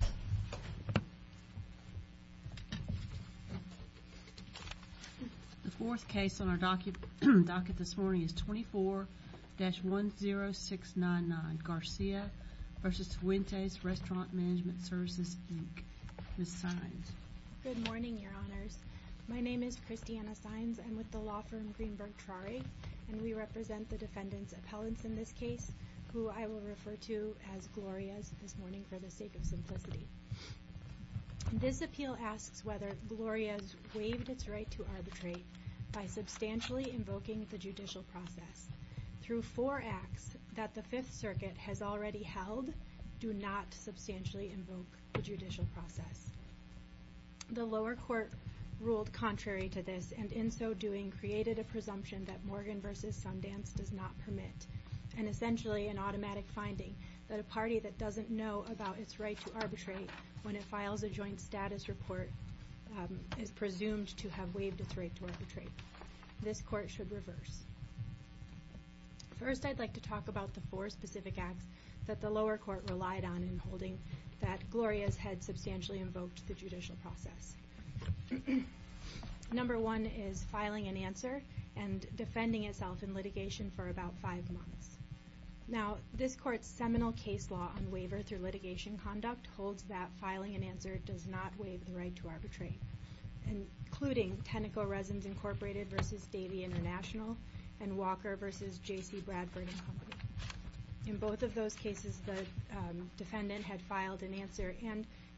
The fourth case on our docket this morning is 24-10699 Garcia v. Fuentes, Restaurant Management Services, Inc. Ms. Sines. Good morning, Your Honors. My name is Christiana Sines. I'm with the law firm Greenberg-Trari, and we represent the defendant's appellants in this case, who I will refer to as Gloria's this morning for the sake of simplicity. This appeal asks whether Gloria's waived its right to arbitrate by substantially invoking the judicial process. Through four acts that the Fifth Circuit has already held, do not substantially invoke the judicial process. The lower court ruled contrary to this, and in so doing, created a presumption that Morgan v. Sundance does not permit, and essentially an automatic finding that a party that doesn't know about its right to arbitrate when it files a joint status report is presumed to have waived its right to arbitrate. This court should reverse. First, I'd like to talk about the four specific acts that the lower court relied on in holding that Gloria's had substantially invoked the judicial process. Number one is filing an answer and defending itself in litigation for about five months. Now, this court's seminal case law on waiver through litigation conduct holds that filing an answer does not waive the right to arbitrate, including Tenneco Resins, Inc. v. Davey International and Walker v. J.C. Bradford & Company. In both of those cases, the defendant had filed an answer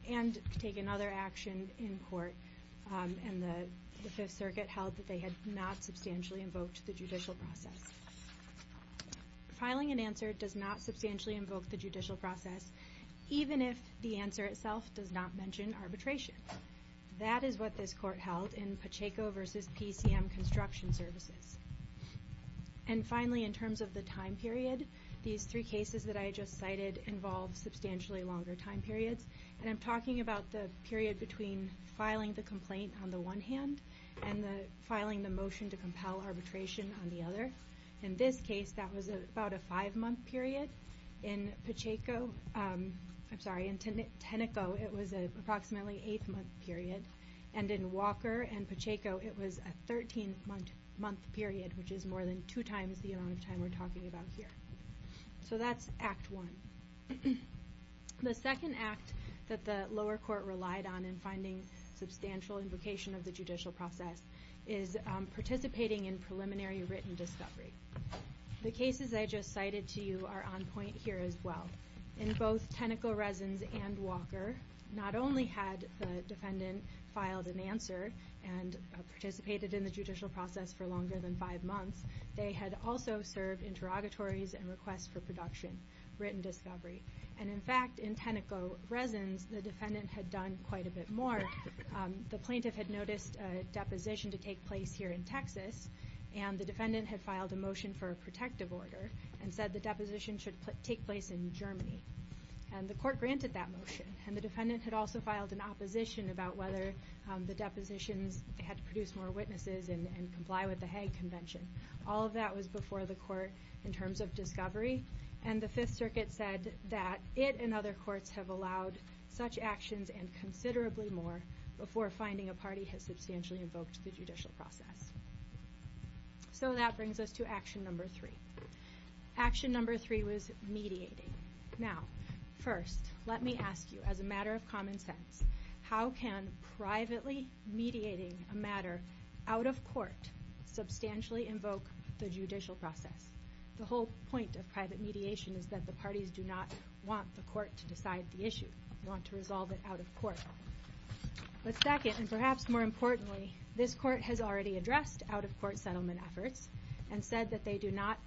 and taken other action in court, and the Fifth Circuit held that they had not substantially invoked the judicial process. Filing an answer does not substantially invoke the judicial process, even if the answer itself does not mention arbitration. That is what this court held in Pacheco v. PCM Construction Services. And finally, in terms of the time period, these three cases that I just cited involve substantially longer time periods, and I'm talking about the period between filing the complaint on the one hand and filing the motion to compel arbitration on the other. In this case, that was about a five-month period. In Tenneco, it was approximately an eight-month period, and in Walker and Pacheco, it was a 13-month period, which is more than two times the amount of time we're talking about here. So that's Act I. The second act that the lower court relied on in finding substantial invocation of the judicial process is participating in preliminary written discovery. The cases I just cited to you are on point here as well. In both Tenneco, Resins, and Walker, not only had the defendant filed an answer and participated in the judicial process for longer than five months, they had also served interrogatories and requests for production, written discovery. And in fact, in Tenneco, Resins, the defendant had done quite a bit more. The plaintiff had noticed a deposition to take place here in Texas, and the defendant had filed a motion for a protective order and said the deposition should take place in Germany, and the court granted that motion. And the defendant had also filed an opposition about whether the depositions had to produce more witnesses and comply with the Hague Convention. All of that was before the court in terms of discovery, and the Fifth Circuit said that it and other courts have allowed such actions and considerably more before finding a party has substantially invoked the judicial process. So that brings us to action number three. Action number three was mediating. Now, first, let me ask you, as a matter of common sense, how can privately mediating a matter out of court substantially invoke the judicial process? The whole point of private mediation is that the parties do not want the court to decide the issue. They want to resolve it out of court. But second, and perhaps more importantly, this court has already addressed out-of-court settlement efforts and said that they do not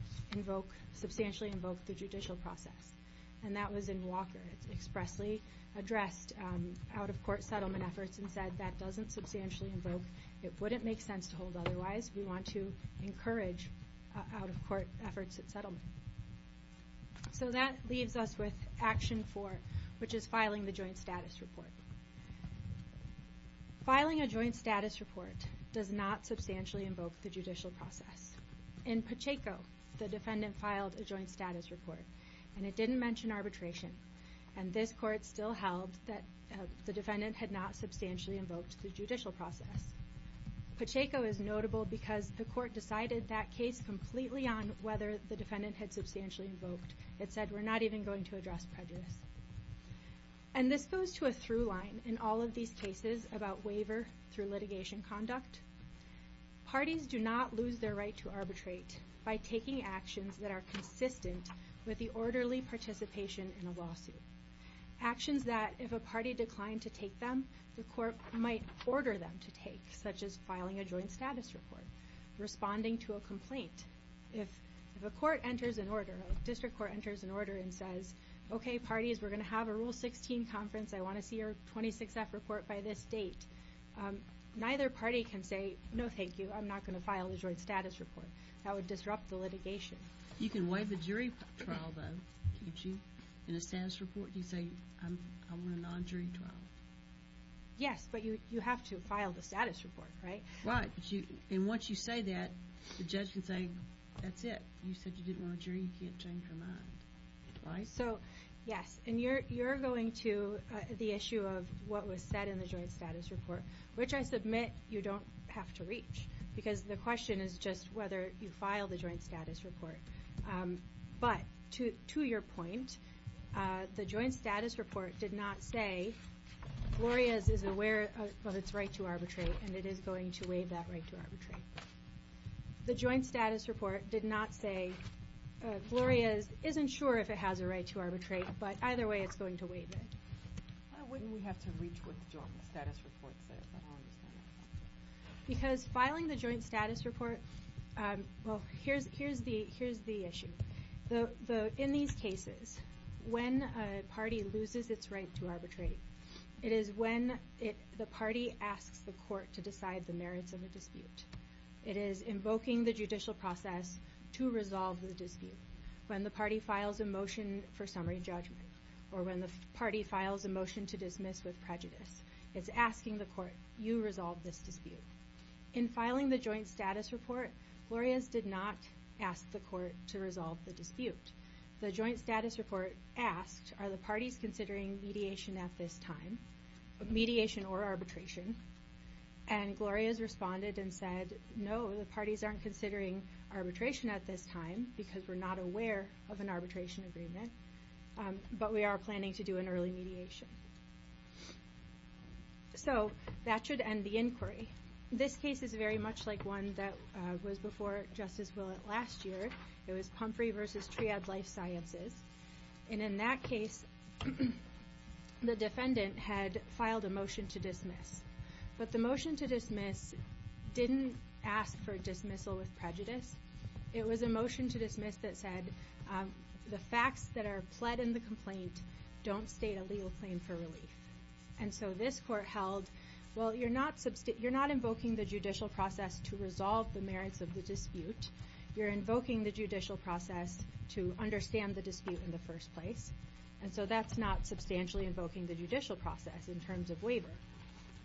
substantially invoke the judicial process. And that was in Walker. It expressly addressed out-of-court settlement efforts and said that doesn't substantially invoke. It wouldn't make sense to hold otherwise. We want to encourage out-of-court efforts at settlement. So that leaves us with action four, which is filing the joint status report. Filing a joint status report does not substantially invoke the judicial process. In Pacheco, the defendant filed a joint status report, and it didn't mention arbitration. And this court still held that the defendant had not substantially invoked the judicial process. Pacheco is notable because the court decided that case completely on whether the defendant had substantially invoked. It said we're not even going to address prejudice. And this goes to a through line in all of these cases about waiver through litigation conduct. Parties do not lose their right to arbitrate by taking actions that are consistent with the orderly participation in a lawsuit, actions that if a party declined to take them, the court might order them to take, such as filing a joint status report, responding to a complaint. If a court enters an order, a district court enters an order and says, okay, parties, we're going to have a Rule 16 conference. I want to see your 26F report by this date. Neither party can say, no, thank you. I'm not going to file the joint status report. That would disrupt the litigation. You can waive the jury trial, though, can't you? In a status report, you say, I want a non-jury trial. Yes, but you have to file the status report, right? Right. And once you say that, the judge can say, that's it. You said you didn't want a jury, you can't change your mind. Right? So, yes. And you're going to the issue of what was said in the joint status report, which I submit you don't have to reach. Because the question is just whether you file the joint status report. But, to your point, the joint status report did not say, Gloria's is aware of its right to arbitrate and it is going to waive that right to arbitrate. The joint status report did not say, Gloria's isn't sure if it has a right to arbitrate, but either way it's going to waive it. Why wouldn't we have to reach what the joint status report said? I don't understand that. Because filing the joint status report, well, here's the issue. In these cases, when a party loses its right to arbitrate, it is when the party asks the court to decide the merits of the dispute. It is invoking the judicial process to resolve the dispute. When the party files a motion for summary judgment, or when the party files a motion to dismiss with prejudice, it's asking the court, you resolve this dispute. In filing the joint status report, Gloria's did not ask the court to resolve the dispute. The joint status report asked, are the parties considering mediation at this time? Mediation or arbitration. And Gloria's responded and said, no, the parties aren't considering arbitration at this time, because we're not aware of an arbitration agreement. But we are planning to do an early mediation. So that should end the inquiry. This case is very much like one that was before Justice Willett last year. It was Pumphrey v. Triad Life Sciences. And in that case, the defendant had filed a motion to dismiss. But the motion to dismiss didn't ask for dismissal with prejudice. It was a motion to dismiss that said, the facts that are pled in the complaint don't state a legal claim for relief. And so this court held, well, you're not invoking the judicial process to resolve the merits of the dispute. You're invoking the judicial process to understand the dispute in the first place. And so that's not substantially invoking the judicial process in terms of waiver.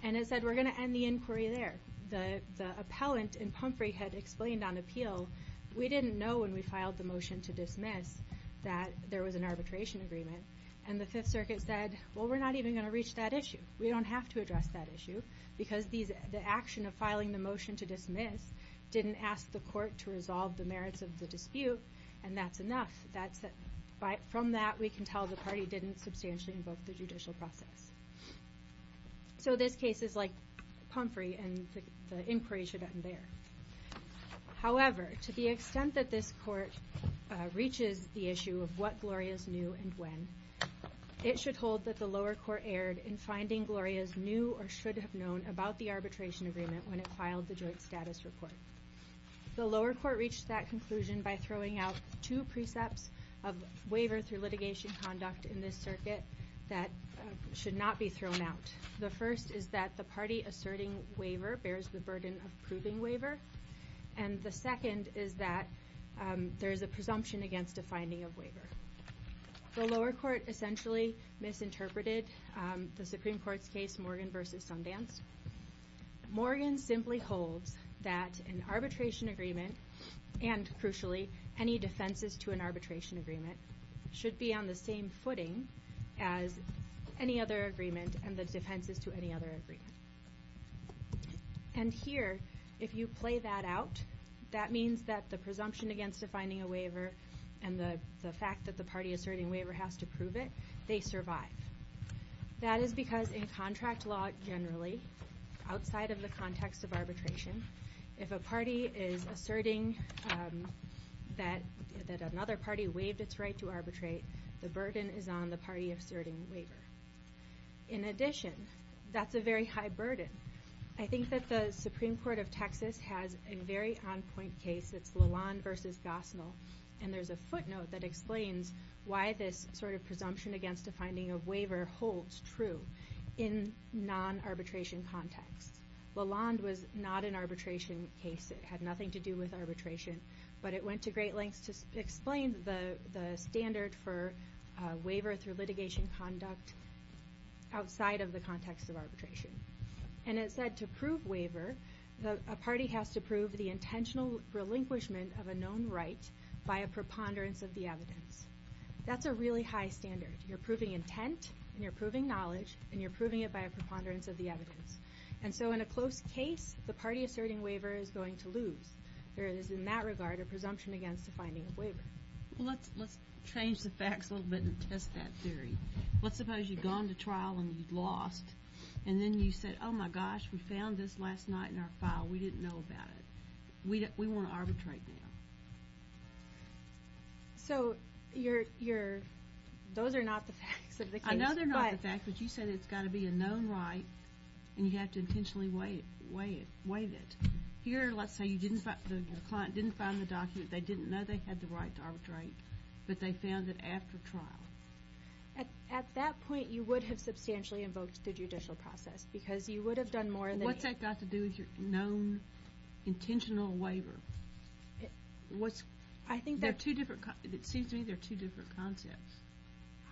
And it said, we're going to end the inquiry there. The appellant in Pumphrey had explained on appeal, we didn't know when we filed the motion to dismiss that there was an arbitration agreement. And the Fifth Circuit said, well, we're not even going to reach that issue. We don't have to address that issue, because the action of filing the motion to dismiss didn't ask the court to resolve the merits of the dispute, and that's enough. From that, we can tell the party didn't substantially invoke the judicial process. So this case is like Pumphrey, and the inquiry should end there. However, to the extent that this court reaches the issue of what Gloria's knew and when, it should hold that the lower court erred in finding Gloria's knew or should have known about the arbitration agreement when it filed the joint status report. The lower court reached that conclusion by throwing out two precepts of waiver through litigation conduct in this circuit that should not be thrown out. The first is that the party asserting waiver bears the burden of proving waiver, and the second is that there is a presumption against a finding of waiver. The lower court essentially misinterpreted the Supreme Court's case, Morgan v. Sundance. Morgan simply holds that an arbitration agreement and, crucially, any defenses to an arbitration agreement should be on the same footing as any other agreement and the defenses to any other agreement. And here, if you play that out, that means that the presumption against a finding of waiver and the fact that the party asserting waiver has to prove it, they survive. That is because in contract law generally, outside of the context of arbitration, if a party is asserting that another party waived its right to arbitrate, the burden is on the party asserting waiver. In addition, that's a very high burden. I think that the Supreme Court of Texas has a very on-point case. It's Lalonde v. Gosnell, and there's a footnote that explains why this sort of presumption against a finding of waiver holds true in non-arbitration context. Lalonde was not an arbitration case. It had nothing to do with arbitration, but it went to great lengths to explain the standard for waiver through litigation conduct outside of the context of arbitration. And it said to prove waiver, a party has to prove the intentional relinquishment of a known right by a preponderance of the evidence. That's a really high standard. You're proving intent, and you're proving knowledge, and you're proving it by a preponderance of the evidence. And so in a close case, the party asserting waiver is going to lose. There is, in that regard, a presumption against a finding of waiver. Well, let's change the facts a little bit and test that theory. Let's suppose you'd gone to trial and you'd lost, and then you said, oh, my gosh, we found this last night in our file. We didn't know about it. We want to arbitrate now. So those are not the facts of the case. I know they're not the facts, but you said it's got to be a known right, and you have to intentionally waive it. Here, let's say the client didn't find the document, they didn't know they had the right to arbitrate, but they found it after trial. At that point, you would have substantially invoked the judicial process because you would have done more than that. What's that got to do with your known intentional waiver? It seems to me they're two different concepts.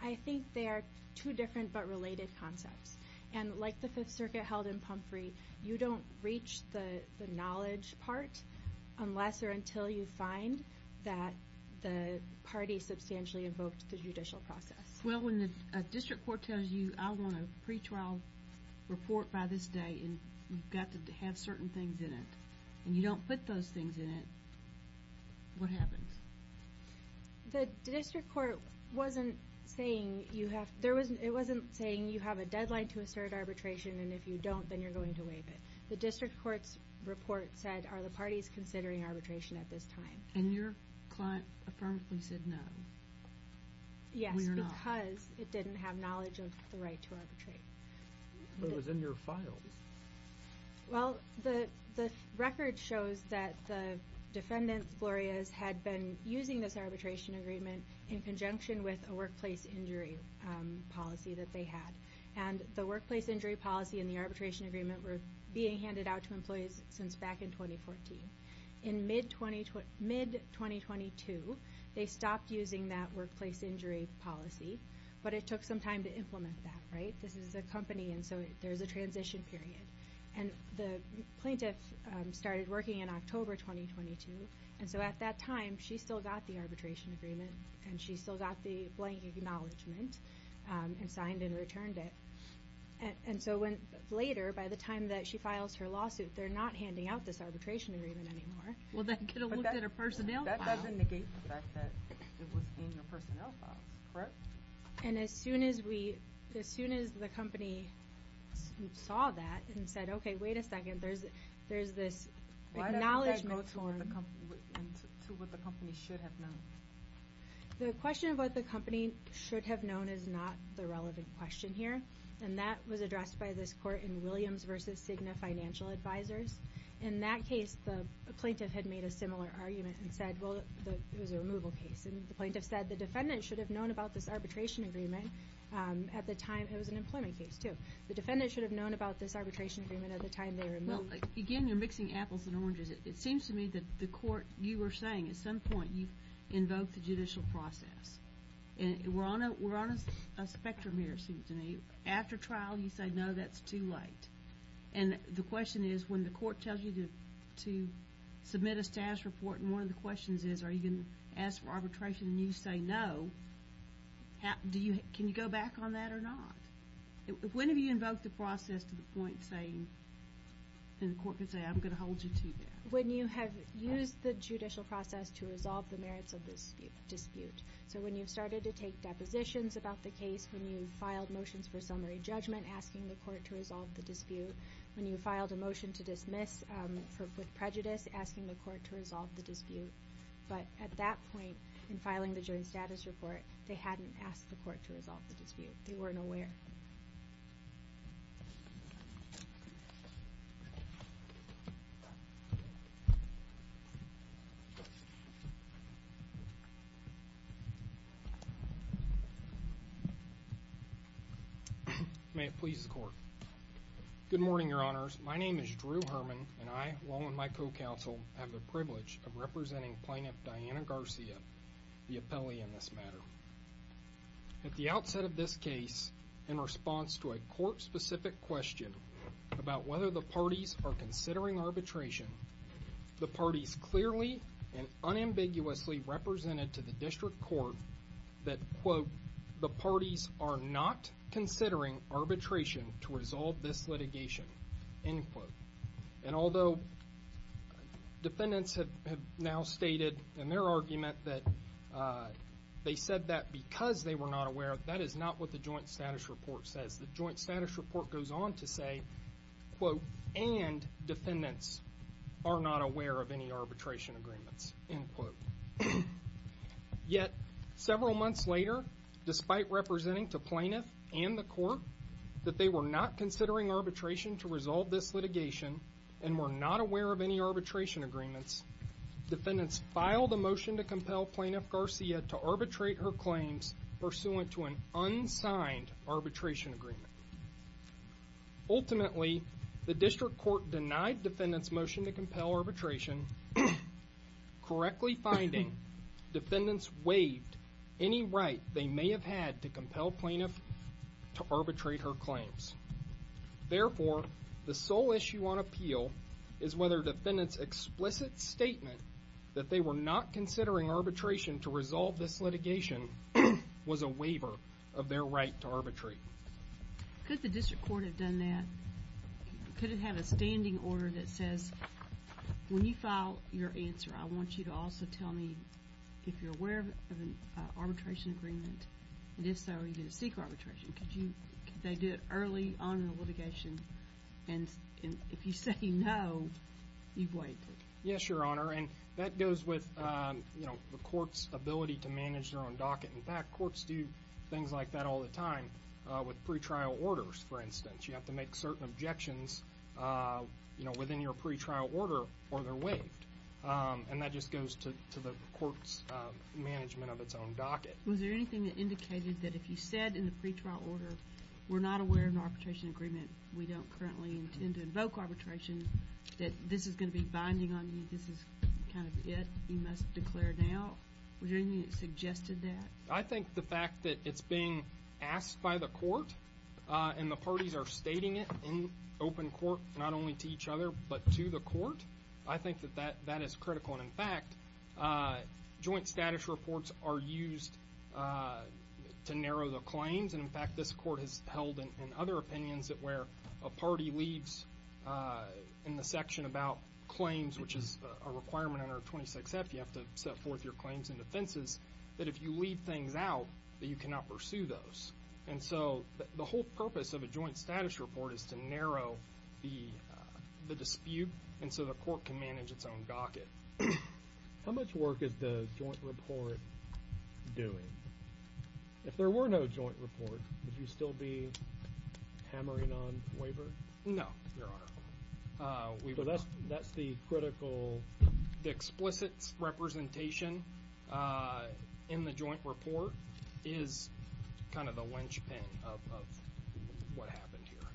I think they are two different but related concepts. And like the Fifth Circuit held in Pumphrey, you don't reach the knowledge part unless or until you find that the party substantially invoked the judicial process. Well, when the district court tells you I want a pretrial report by this day and you've got to have certain things in it, and you don't put those things in it, what happens? The district court wasn't saying you have a deadline to assert arbitration, and if you don't, then you're going to waive it. The district court's report said, are the parties considering arbitration at this time? And your client affirmatively said no. Yes, because it didn't have knowledge of the right to arbitrate. But it was in your files. Well, the record shows that the defendant, Flores, had been using this arbitration agreement in conjunction with a workplace injury policy that they had. And the workplace injury policy and the arbitration agreement were being handed out to employees since back in 2014. In mid-2022, they stopped using that workplace injury policy, but it took some time to implement that, right? This is a company, and so there's a transition period. And the plaintiff started working in October 2022, and so at that time she still got the arbitration agreement and she still got the blank acknowledgment and signed and returned it. And so later, by the time that she files her lawsuit, they're not handing out this arbitration agreement anymore. Well, then get a look at her personnel. That doesn't negate the fact that it was in your personnel files, correct? And as soon as the company saw that and said, okay, wait a second, there's this acknowledgment form. Why did that go to what the company should have known? The question of what the company should have known is not the relevant question here, and that was addressed by this court in Williams v. Cigna Financial Advisors. In that case, the plaintiff had made a similar argument and said, well, it was a removal case. And the plaintiff said the defendant should have known about this arbitration agreement at the time it was an employment case, too. The defendant should have known about this arbitration agreement at the time they removed it. Well, again, you're mixing apples and oranges. It seems to me that the court, you were saying at some point you invoked the judicial process. We're on a spectrum here, it seems to me. After trial, you say, no, that's too late. And the question is, when the court tells you to submit a status report, one of the questions is, are you going to ask for arbitration and you say no? Can you go back on that or not? When have you invoked the process to the point saying, and the court can say, I'm going to hold you to that? When you have used the judicial process to resolve the merits of the dispute. So when you've started to take depositions about the case, when you've filed motions for summary judgment asking the court to resolve the dispute, when you filed a motion to dismiss with prejudice asking the court to resolve the dispute. But at that point in filing the joint status report, they hadn't asked the court to resolve the dispute. They weren't aware. May it please the court. Good morning, your honors. My name is Drew Herman and I, along with my co-counsel, have the privilege of representing plaintiff Diana Garcia, the appellee in this matter. At the outset of this case, in response to a court-specific question about whether the parties are considering arbitration, the parties clearly and unambiguously represented to the district court that, quote, the parties are not considering arbitration to resolve this litigation, end quote. And although defendants have now stated in their argument that they said that because they were not aware, that is not what the joint status report says. The joint status report goes on to say, quote, and defendants are not aware of any arbitration agreements, end quote. Yet, several months later, despite representing to plaintiff and the court that they were not considering arbitration to resolve this litigation and were not aware of any arbitration agreements, defendants filed a motion to compel plaintiff Garcia to arbitrate her claims pursuant to an unsigned arbitration agreement. Ultimately, the district court denied defendants' motion to compel arbitration, correctly finding defendants waived any right they may have had to compel plaintiff to arbitrate her claims. Therefore, the sole issue on appeal is whether defendants' explicit statement that they were not considering arbitration to resolve this litigation was a waiver of their right to arbitrate. Could the district court have done that? Could it have a standing order that says, when you file your answer, I want you to also tell me if you're aware of an arbitration agreement, and if so, you're going to seek arbitration? Could they do it early on in the litigation, and if you say no, you've waived it? Yes, Your Honor, and that goes with the court's ability to manage their own docket. In fact, courts do things like that all the time with pretrial orders, for instance. You have to make certain objections within your pretrial order or they're waived, and that just goes to the court's management of its own docket. Was there anything that indicated that if you said in the pretrial order, we're not aware of an arbitration agreement, we don't currently intend to invoke arbitration, that this is going to be binding on you, this is kind of it, you must declare now? Was there anything that suggested that? I think the fact that it's being asked by the court and the parties are stating it in open court not only to each other but to the court, I think that that is critical. And, in fact, joint status reports are used to narrow the claims, and, in fact, this court has held in other opinions that where a party leaves in the section about claims, which is a requirement under 26F, you have to set forth your claims and defenses, that if you leave things out that you cannot pursue those. And so the whole purpose of a joint status report is to narrow the dispute and so the court can manage its own docket. How much work is the joint report doing? If there were no joint report, would you still be hammering on waiver? No, Your Honor. So that's the critical? So the explicit representation in the joint report is kind of the linchpin of what happened here.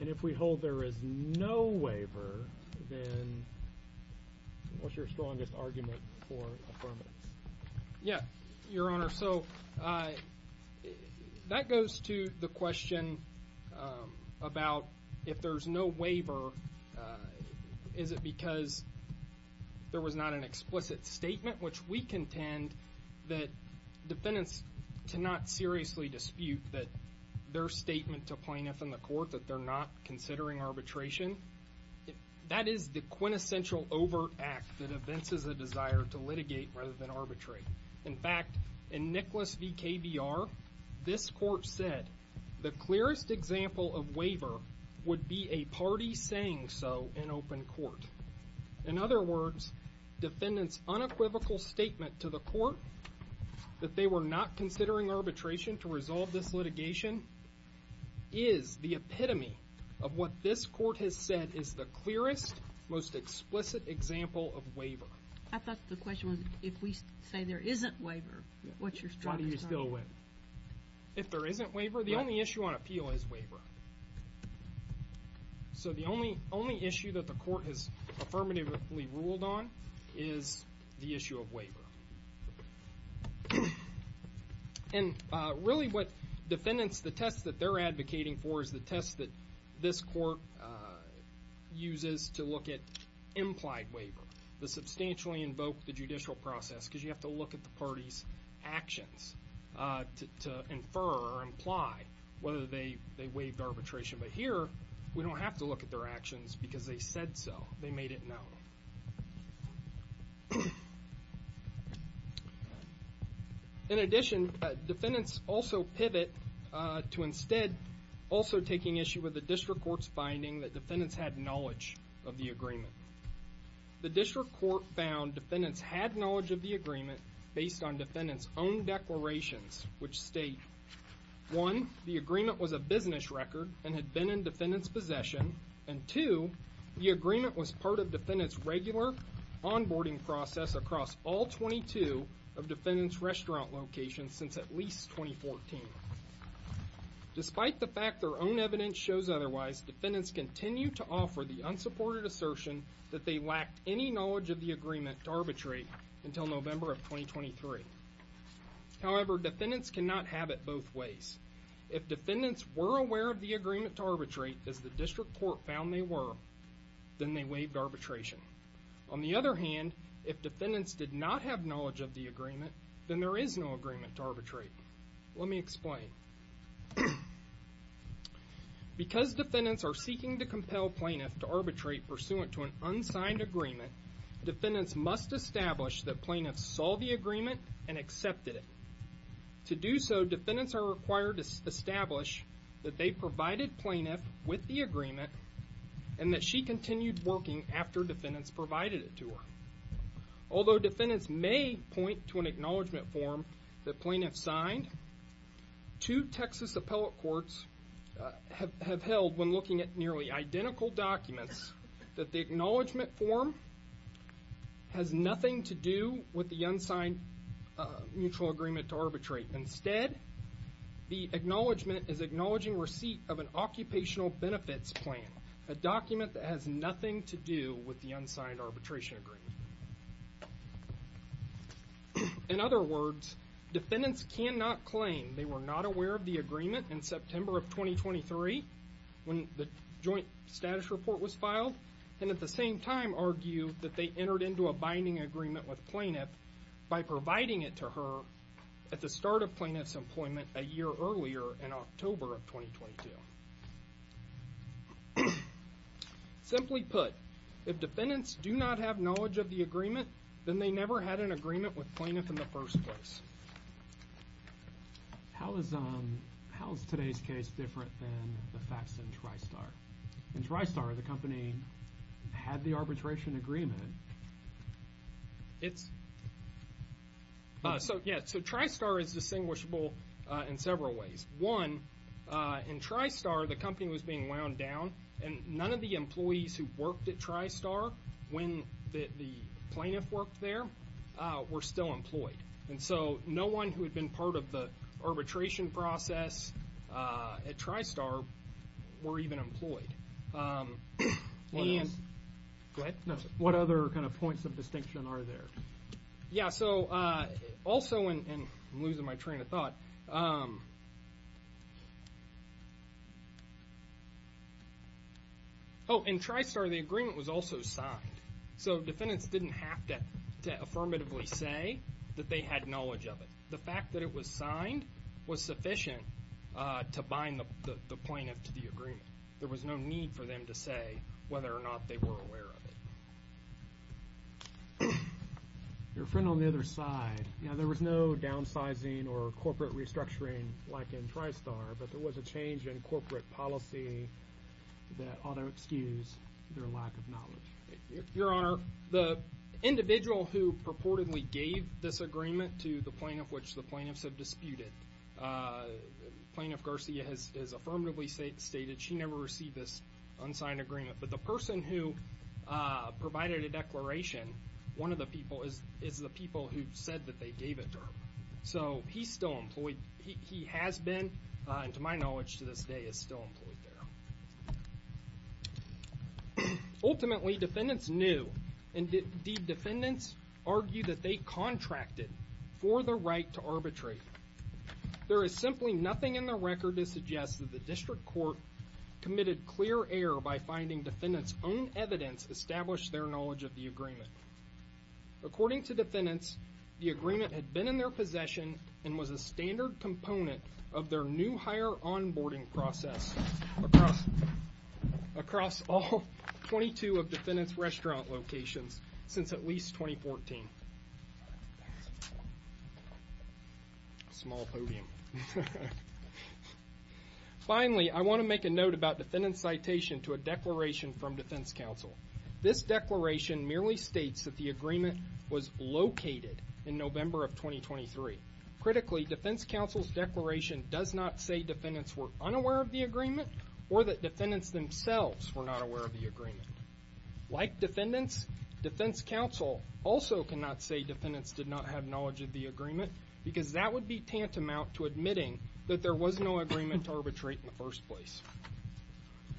And if we hold there is no waiver, then what's your strongest argument for affirmative? Yeah, Your Honor, so that goes to the question about if there's no waiver, is it because there was not an explicit statement, which we contend that defendants cannot seriously dispute that their statement to plaintiff and the court that they're not considering arbitration. That is the quintessential overt act that evinces a desire to litigate rather than arbitrate. In fact, in Nicholas v. KBR, this court said, the clearest example of waiver would be a party saying so in open court. In other words, defendants unequivocal statement to the court that they were not considering arbitration to resolve this litigation is the epitome of what this court has said is the clearest, most explicit example of waiver. I thought the question was, if we say there isn't waiver, what's your strongest argument? Why do you still win? If there isn't waiver, the only issue on appeal is waiver. So the only issue that the court has affirmatively ruled on is the issue of waiver. And really what defendants, the test that they're advocating for, is the test that this court uses to look at implied waiver, to substantially invoke the judicial process, because you have to look at the party's actions to infer or imply whether they waived arbitration. But here, we don't have to look at their actions because they said so. They made it known. In addition, defendants also pivot to instead also taking issue with the district court's finding that defendants had knowledge of the agreement. The district court found defendants had knowledge of the agreement based on defendants' own declarations, which state, one, the agreement was a business record and had been in defendants' possession, and two, the agreement was part of defendants' regular onboarding process across all 22 of defendants' restaurant locations since at least 2014. Despite the fact their own evidence shows otherwise, defendants continue to offer the unsupported assertion that they lacked any knowledge of the agreement to arbitrate until November of 2023. However, defendants cannot have it both ways. If defendants were aware of the agreement to arbitrate, as the district court found they were, then they waived arbitration. On the other hand, if defendants did not have knowledge of the agreement, then there is no agreement to arbitrate. Let me explain. Because defendants are seeking to compel plaintiffs to arbitrate pursuant to an unsigned agreement, defendants must establish that plaintiffs saw the agreement and accepted it. To do so, defendants are required to establish that they provided plaintiff with the agreement and that she continued working after defendants provided it to her. Although defendants may point to an acknowledgment form that plaintiffs signed, two Texas appellate courts have held, when looking at nearly identical documents, that the acknowledgment form has nothing to do with the unsigned mutual agreement to arbitrate. Instead, the acknowledgment is acknowledging receipt of an occupational benefits plan, a document that has nothing to do with the unsigned arbitration agreement. In other words, defendants cannot claim they were not aware of the agreement in September of 2023 when the joint status report was filed, and at the same time argue that they entered into a binding agreement with plaintiff by providing it to her at the start of plaintiff's employment a year earlier in October of 2022. Simply put, if defendants do not have knowledge of the agreement, then they never had an agreement with plaintiff in the first place. How is today's case different than the facts in Tristar? In Tristar, the company had the arbitration agreement. Yeah, so Tristar is distinguishable in several ways. One, in Tristar, the company was being wound down, and none of the employees who worked at Tristar when the plaintiff worked there were still employed. And so no one who had been part of the arbitration process at Tristar were even employed. What other kind of points of distinction are there? Yeah, so also, and I'm losing my train of thought. Oh, in Tristar, the agreement was also signed. So defendants didn't have to affirmatively say that they had knowledge of it. The fact that it was signed was sufficient to bind the plaintiff to the agreement. There was no need for them to say whether or not they were aware of it. Your friend on the other side. Yeah, there was no downsizing or corporate restructuring like in Tristar, but there was a change in corporate policy that ought to excuse their lack of knowledge. Your Honor, the individual who purportedly gave this agreement to the plaintiff, which the plaintiffs have disputed, Plaintiff Garcia has affirmatively stated she never received this unsigned agreement, but the person who provided a declaration is the people who said that they gave it to her. So he's still employed. He has been, and to my knowledge to this day, is still employed there. Ultimately, defendants knew. Indeed, defendants argued that they contracted for the right to arbitrate. There is simply nothing in the record to suggest that the district court committed clear error by finding defendants' own evidence established their knowledge of the agreement. According to defendants, the agreement had been in their possession and was a standard component of their new hire onboarding process across all 22 of defendants' restaurant locations since at least 2014. Small podium. Finally, I want to make a note about defendants' citation to a declaration from defense counsel. This declaration merely states that the agreement was located in November of 2023. Critically, defense counsel's declaration does not say defendants were unaware of the agreement or that defendants themselves were not aware of the agreement. Like defendants, defense counsel also cannot say defendants did not have knowledge of the agreement because that would be tantamount to admitting that there was no agreement to arbitrate in the first place.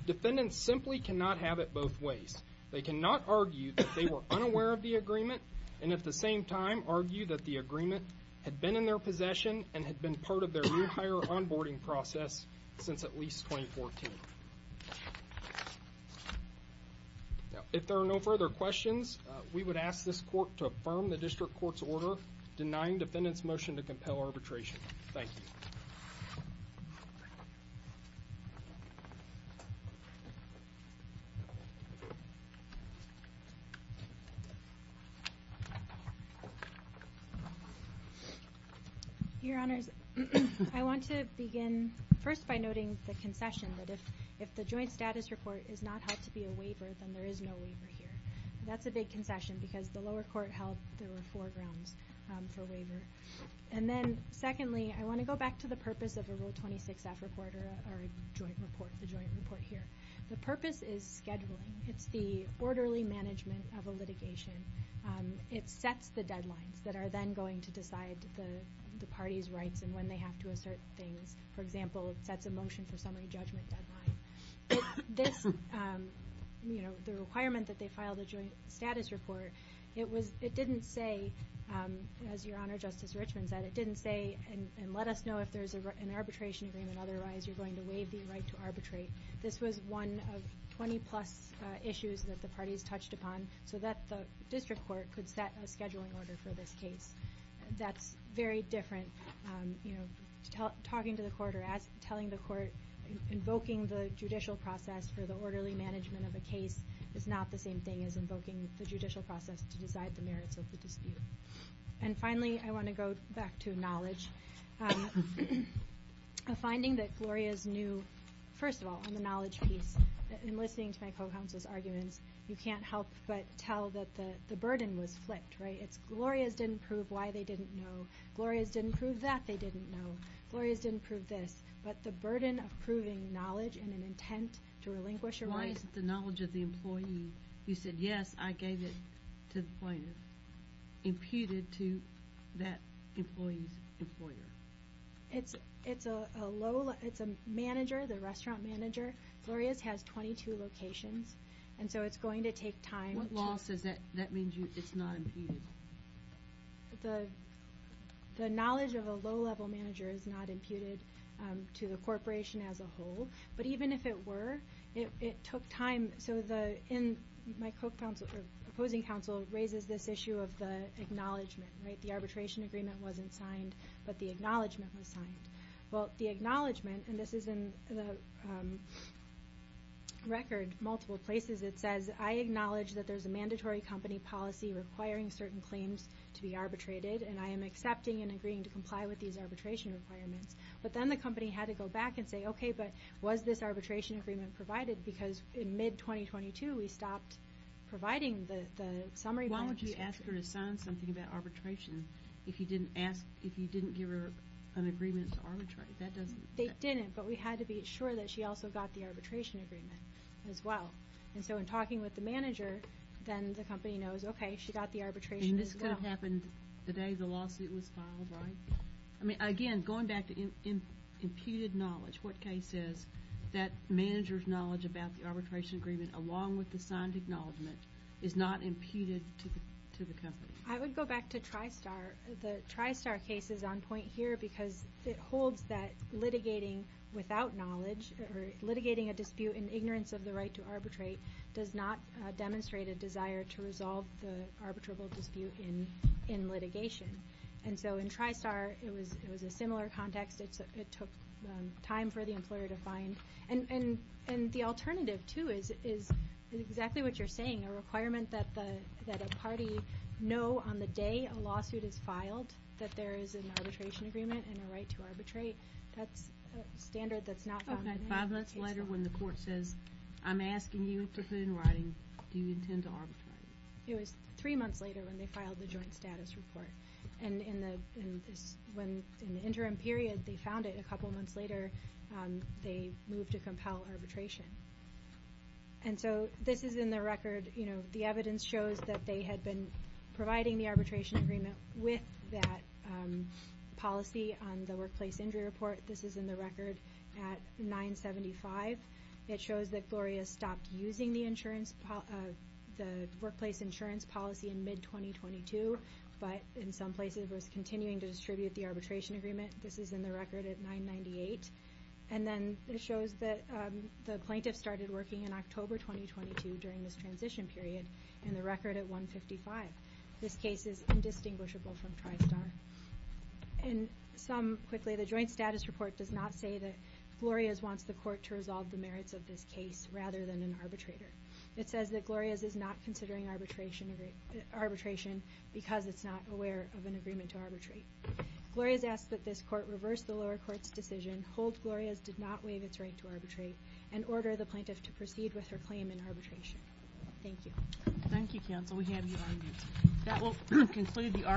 Defendants simply cannot have it both ways. They cannot argue that they were unaware of the agreement and at the same time argue that the agreement had been in their possession and had been part of their new hire onboarding process since at least 2014. If there are no further questions, we would ask this court to affirm the district court's order denying defendants' motion to compel arbitration. Thank you. Your Honor, I want to begin first by noting the concession that if the joint status report is not held to be a waiver, then there is no waiver here. That's a big concession because the lower court held there were four grounds for waiver. And then, secondly, I want to go back to the purpose of a Rule 26-F report or a joint report. The purpose is scheduling. It's the orderly management of a litigation. It sets the deadlines that are then going to decide the party's rights and when they have to assert things. For example, it sets a motion for summary judgment deadline. The requirement that they file the joint status report, it didn't say, as Your Honor, Justice Richmond said, it didn't say, and let us know if there's an arbitration agreement. Otherwise, you're going to waive the right to arbitrate. This was one of 20-plus issues that the parties touched upon so that the district court could set a scheduling order for this case. That's very different. Talking to the court or telling the court, invoking the judicial process for the orderly management of a case is not the same thing as invoking the judicial process to decide the merits of the dispute. And finally, I want to go back to knowledge. A finding that Gloria's knew, first of all, on the knowledge piece, in listening to my co-counsel's arguments, you can't help but tell that the burden was flicked, right? It's Gloria's didn't prove why they didn't know. Gloria's didn't prove that they didn't know. Gloria's didn't prove this. But the burden of proving knowledge in an intent to relinquish a right. In the case of the knowledge of the employee, you said, yes, I gave it to the plaintiff, imputed to that employee's employer. It's a manager, the restaurant manager. Gloria's has 22 locations, and so it's going to take time. What law says that means it's not imputed? The knowledge of a low-level manager is not imputed to the corporation as a whole. But even if it were, it took time. So my opposing counsel raises this issue of the acknowledgment, right? The arbitration agreement wasn't signed, but the acknowledgment was signed. Well, the acknowledgment, and this is in the record, multiple places, it says, I acknowledge that there's a mandatory company policy requiring certain claims to be arbitrated, and I am accepting and agreeing to comply with these arbitration requirements. But then the company had to go back and say, okay, but was this arbitration agreement provided? Because in mid-2022, we stopped providing the summary. Why would you ask her to sign something about arbitration if you didn't give her an agreement to arbitrate? They didn't, but we had to be sure that she also got the arbitration agreement as well. And so in talking with the manager, then the company knows, okay, she got the arbitration as well. And this could have happened the day the lawsuit was filed, right? I mean, again, going back to imputed knowledge, what case is that manager's knowledge about the arbitration agreement, along with the signed acknowledgment, is not imputed to the company? I would go back to TriStar. The TriStar case is on point here because it holds that litigating without knowledge or litigating a dispute in ignorance of the right to arbitrate does not demonstrate a desire to resolve the arbitrable dispute in litigation. And so in TriStar, it was a similar context. It took time for the employer to find. And the alternative, too, is exactly what you're saying, a requirement that a party know on the day a lawsuit is filed that there is an arbitration agreement and a right to arbitrate. That's a standard that's not found in any case. Okay, five months later when the court says, I'm asking you to put in writing, do you intend to arbitrate? It was three months later when they filed the joint status report. And in the interim period they found it, a couple months later they moved to compel arbitration. And so this is in the record. The evidence shows that they had been providing the arbitration agreement with that policy on the workplace injury report. This is in the record at 975. It shows that Gloria stopped using the workplace insurance policy in mid-2022, but in some places was continuing to distribute the arbitration agreement. This is in the record at 998. And then it shows that the plaintiff started working in October 2022 during this transition period, in the record at 155. This case is indistinguishable from TriStar. And some, quickly, the joint status report does not say that Glorias wants the court to resolve the merits of this case rather than an arbitrator. It says that Glorias is not considering arbitration because it's not aware of an agreement to arbitrate. Glorias asks that this court reverse the lower court's decision, hold Glorias did not waive its right to arbitrate, and order the plaintiff to proceed with her claim in arbitration. Thank you. Thank you, counsel. We have your argument. That will conclude the argument.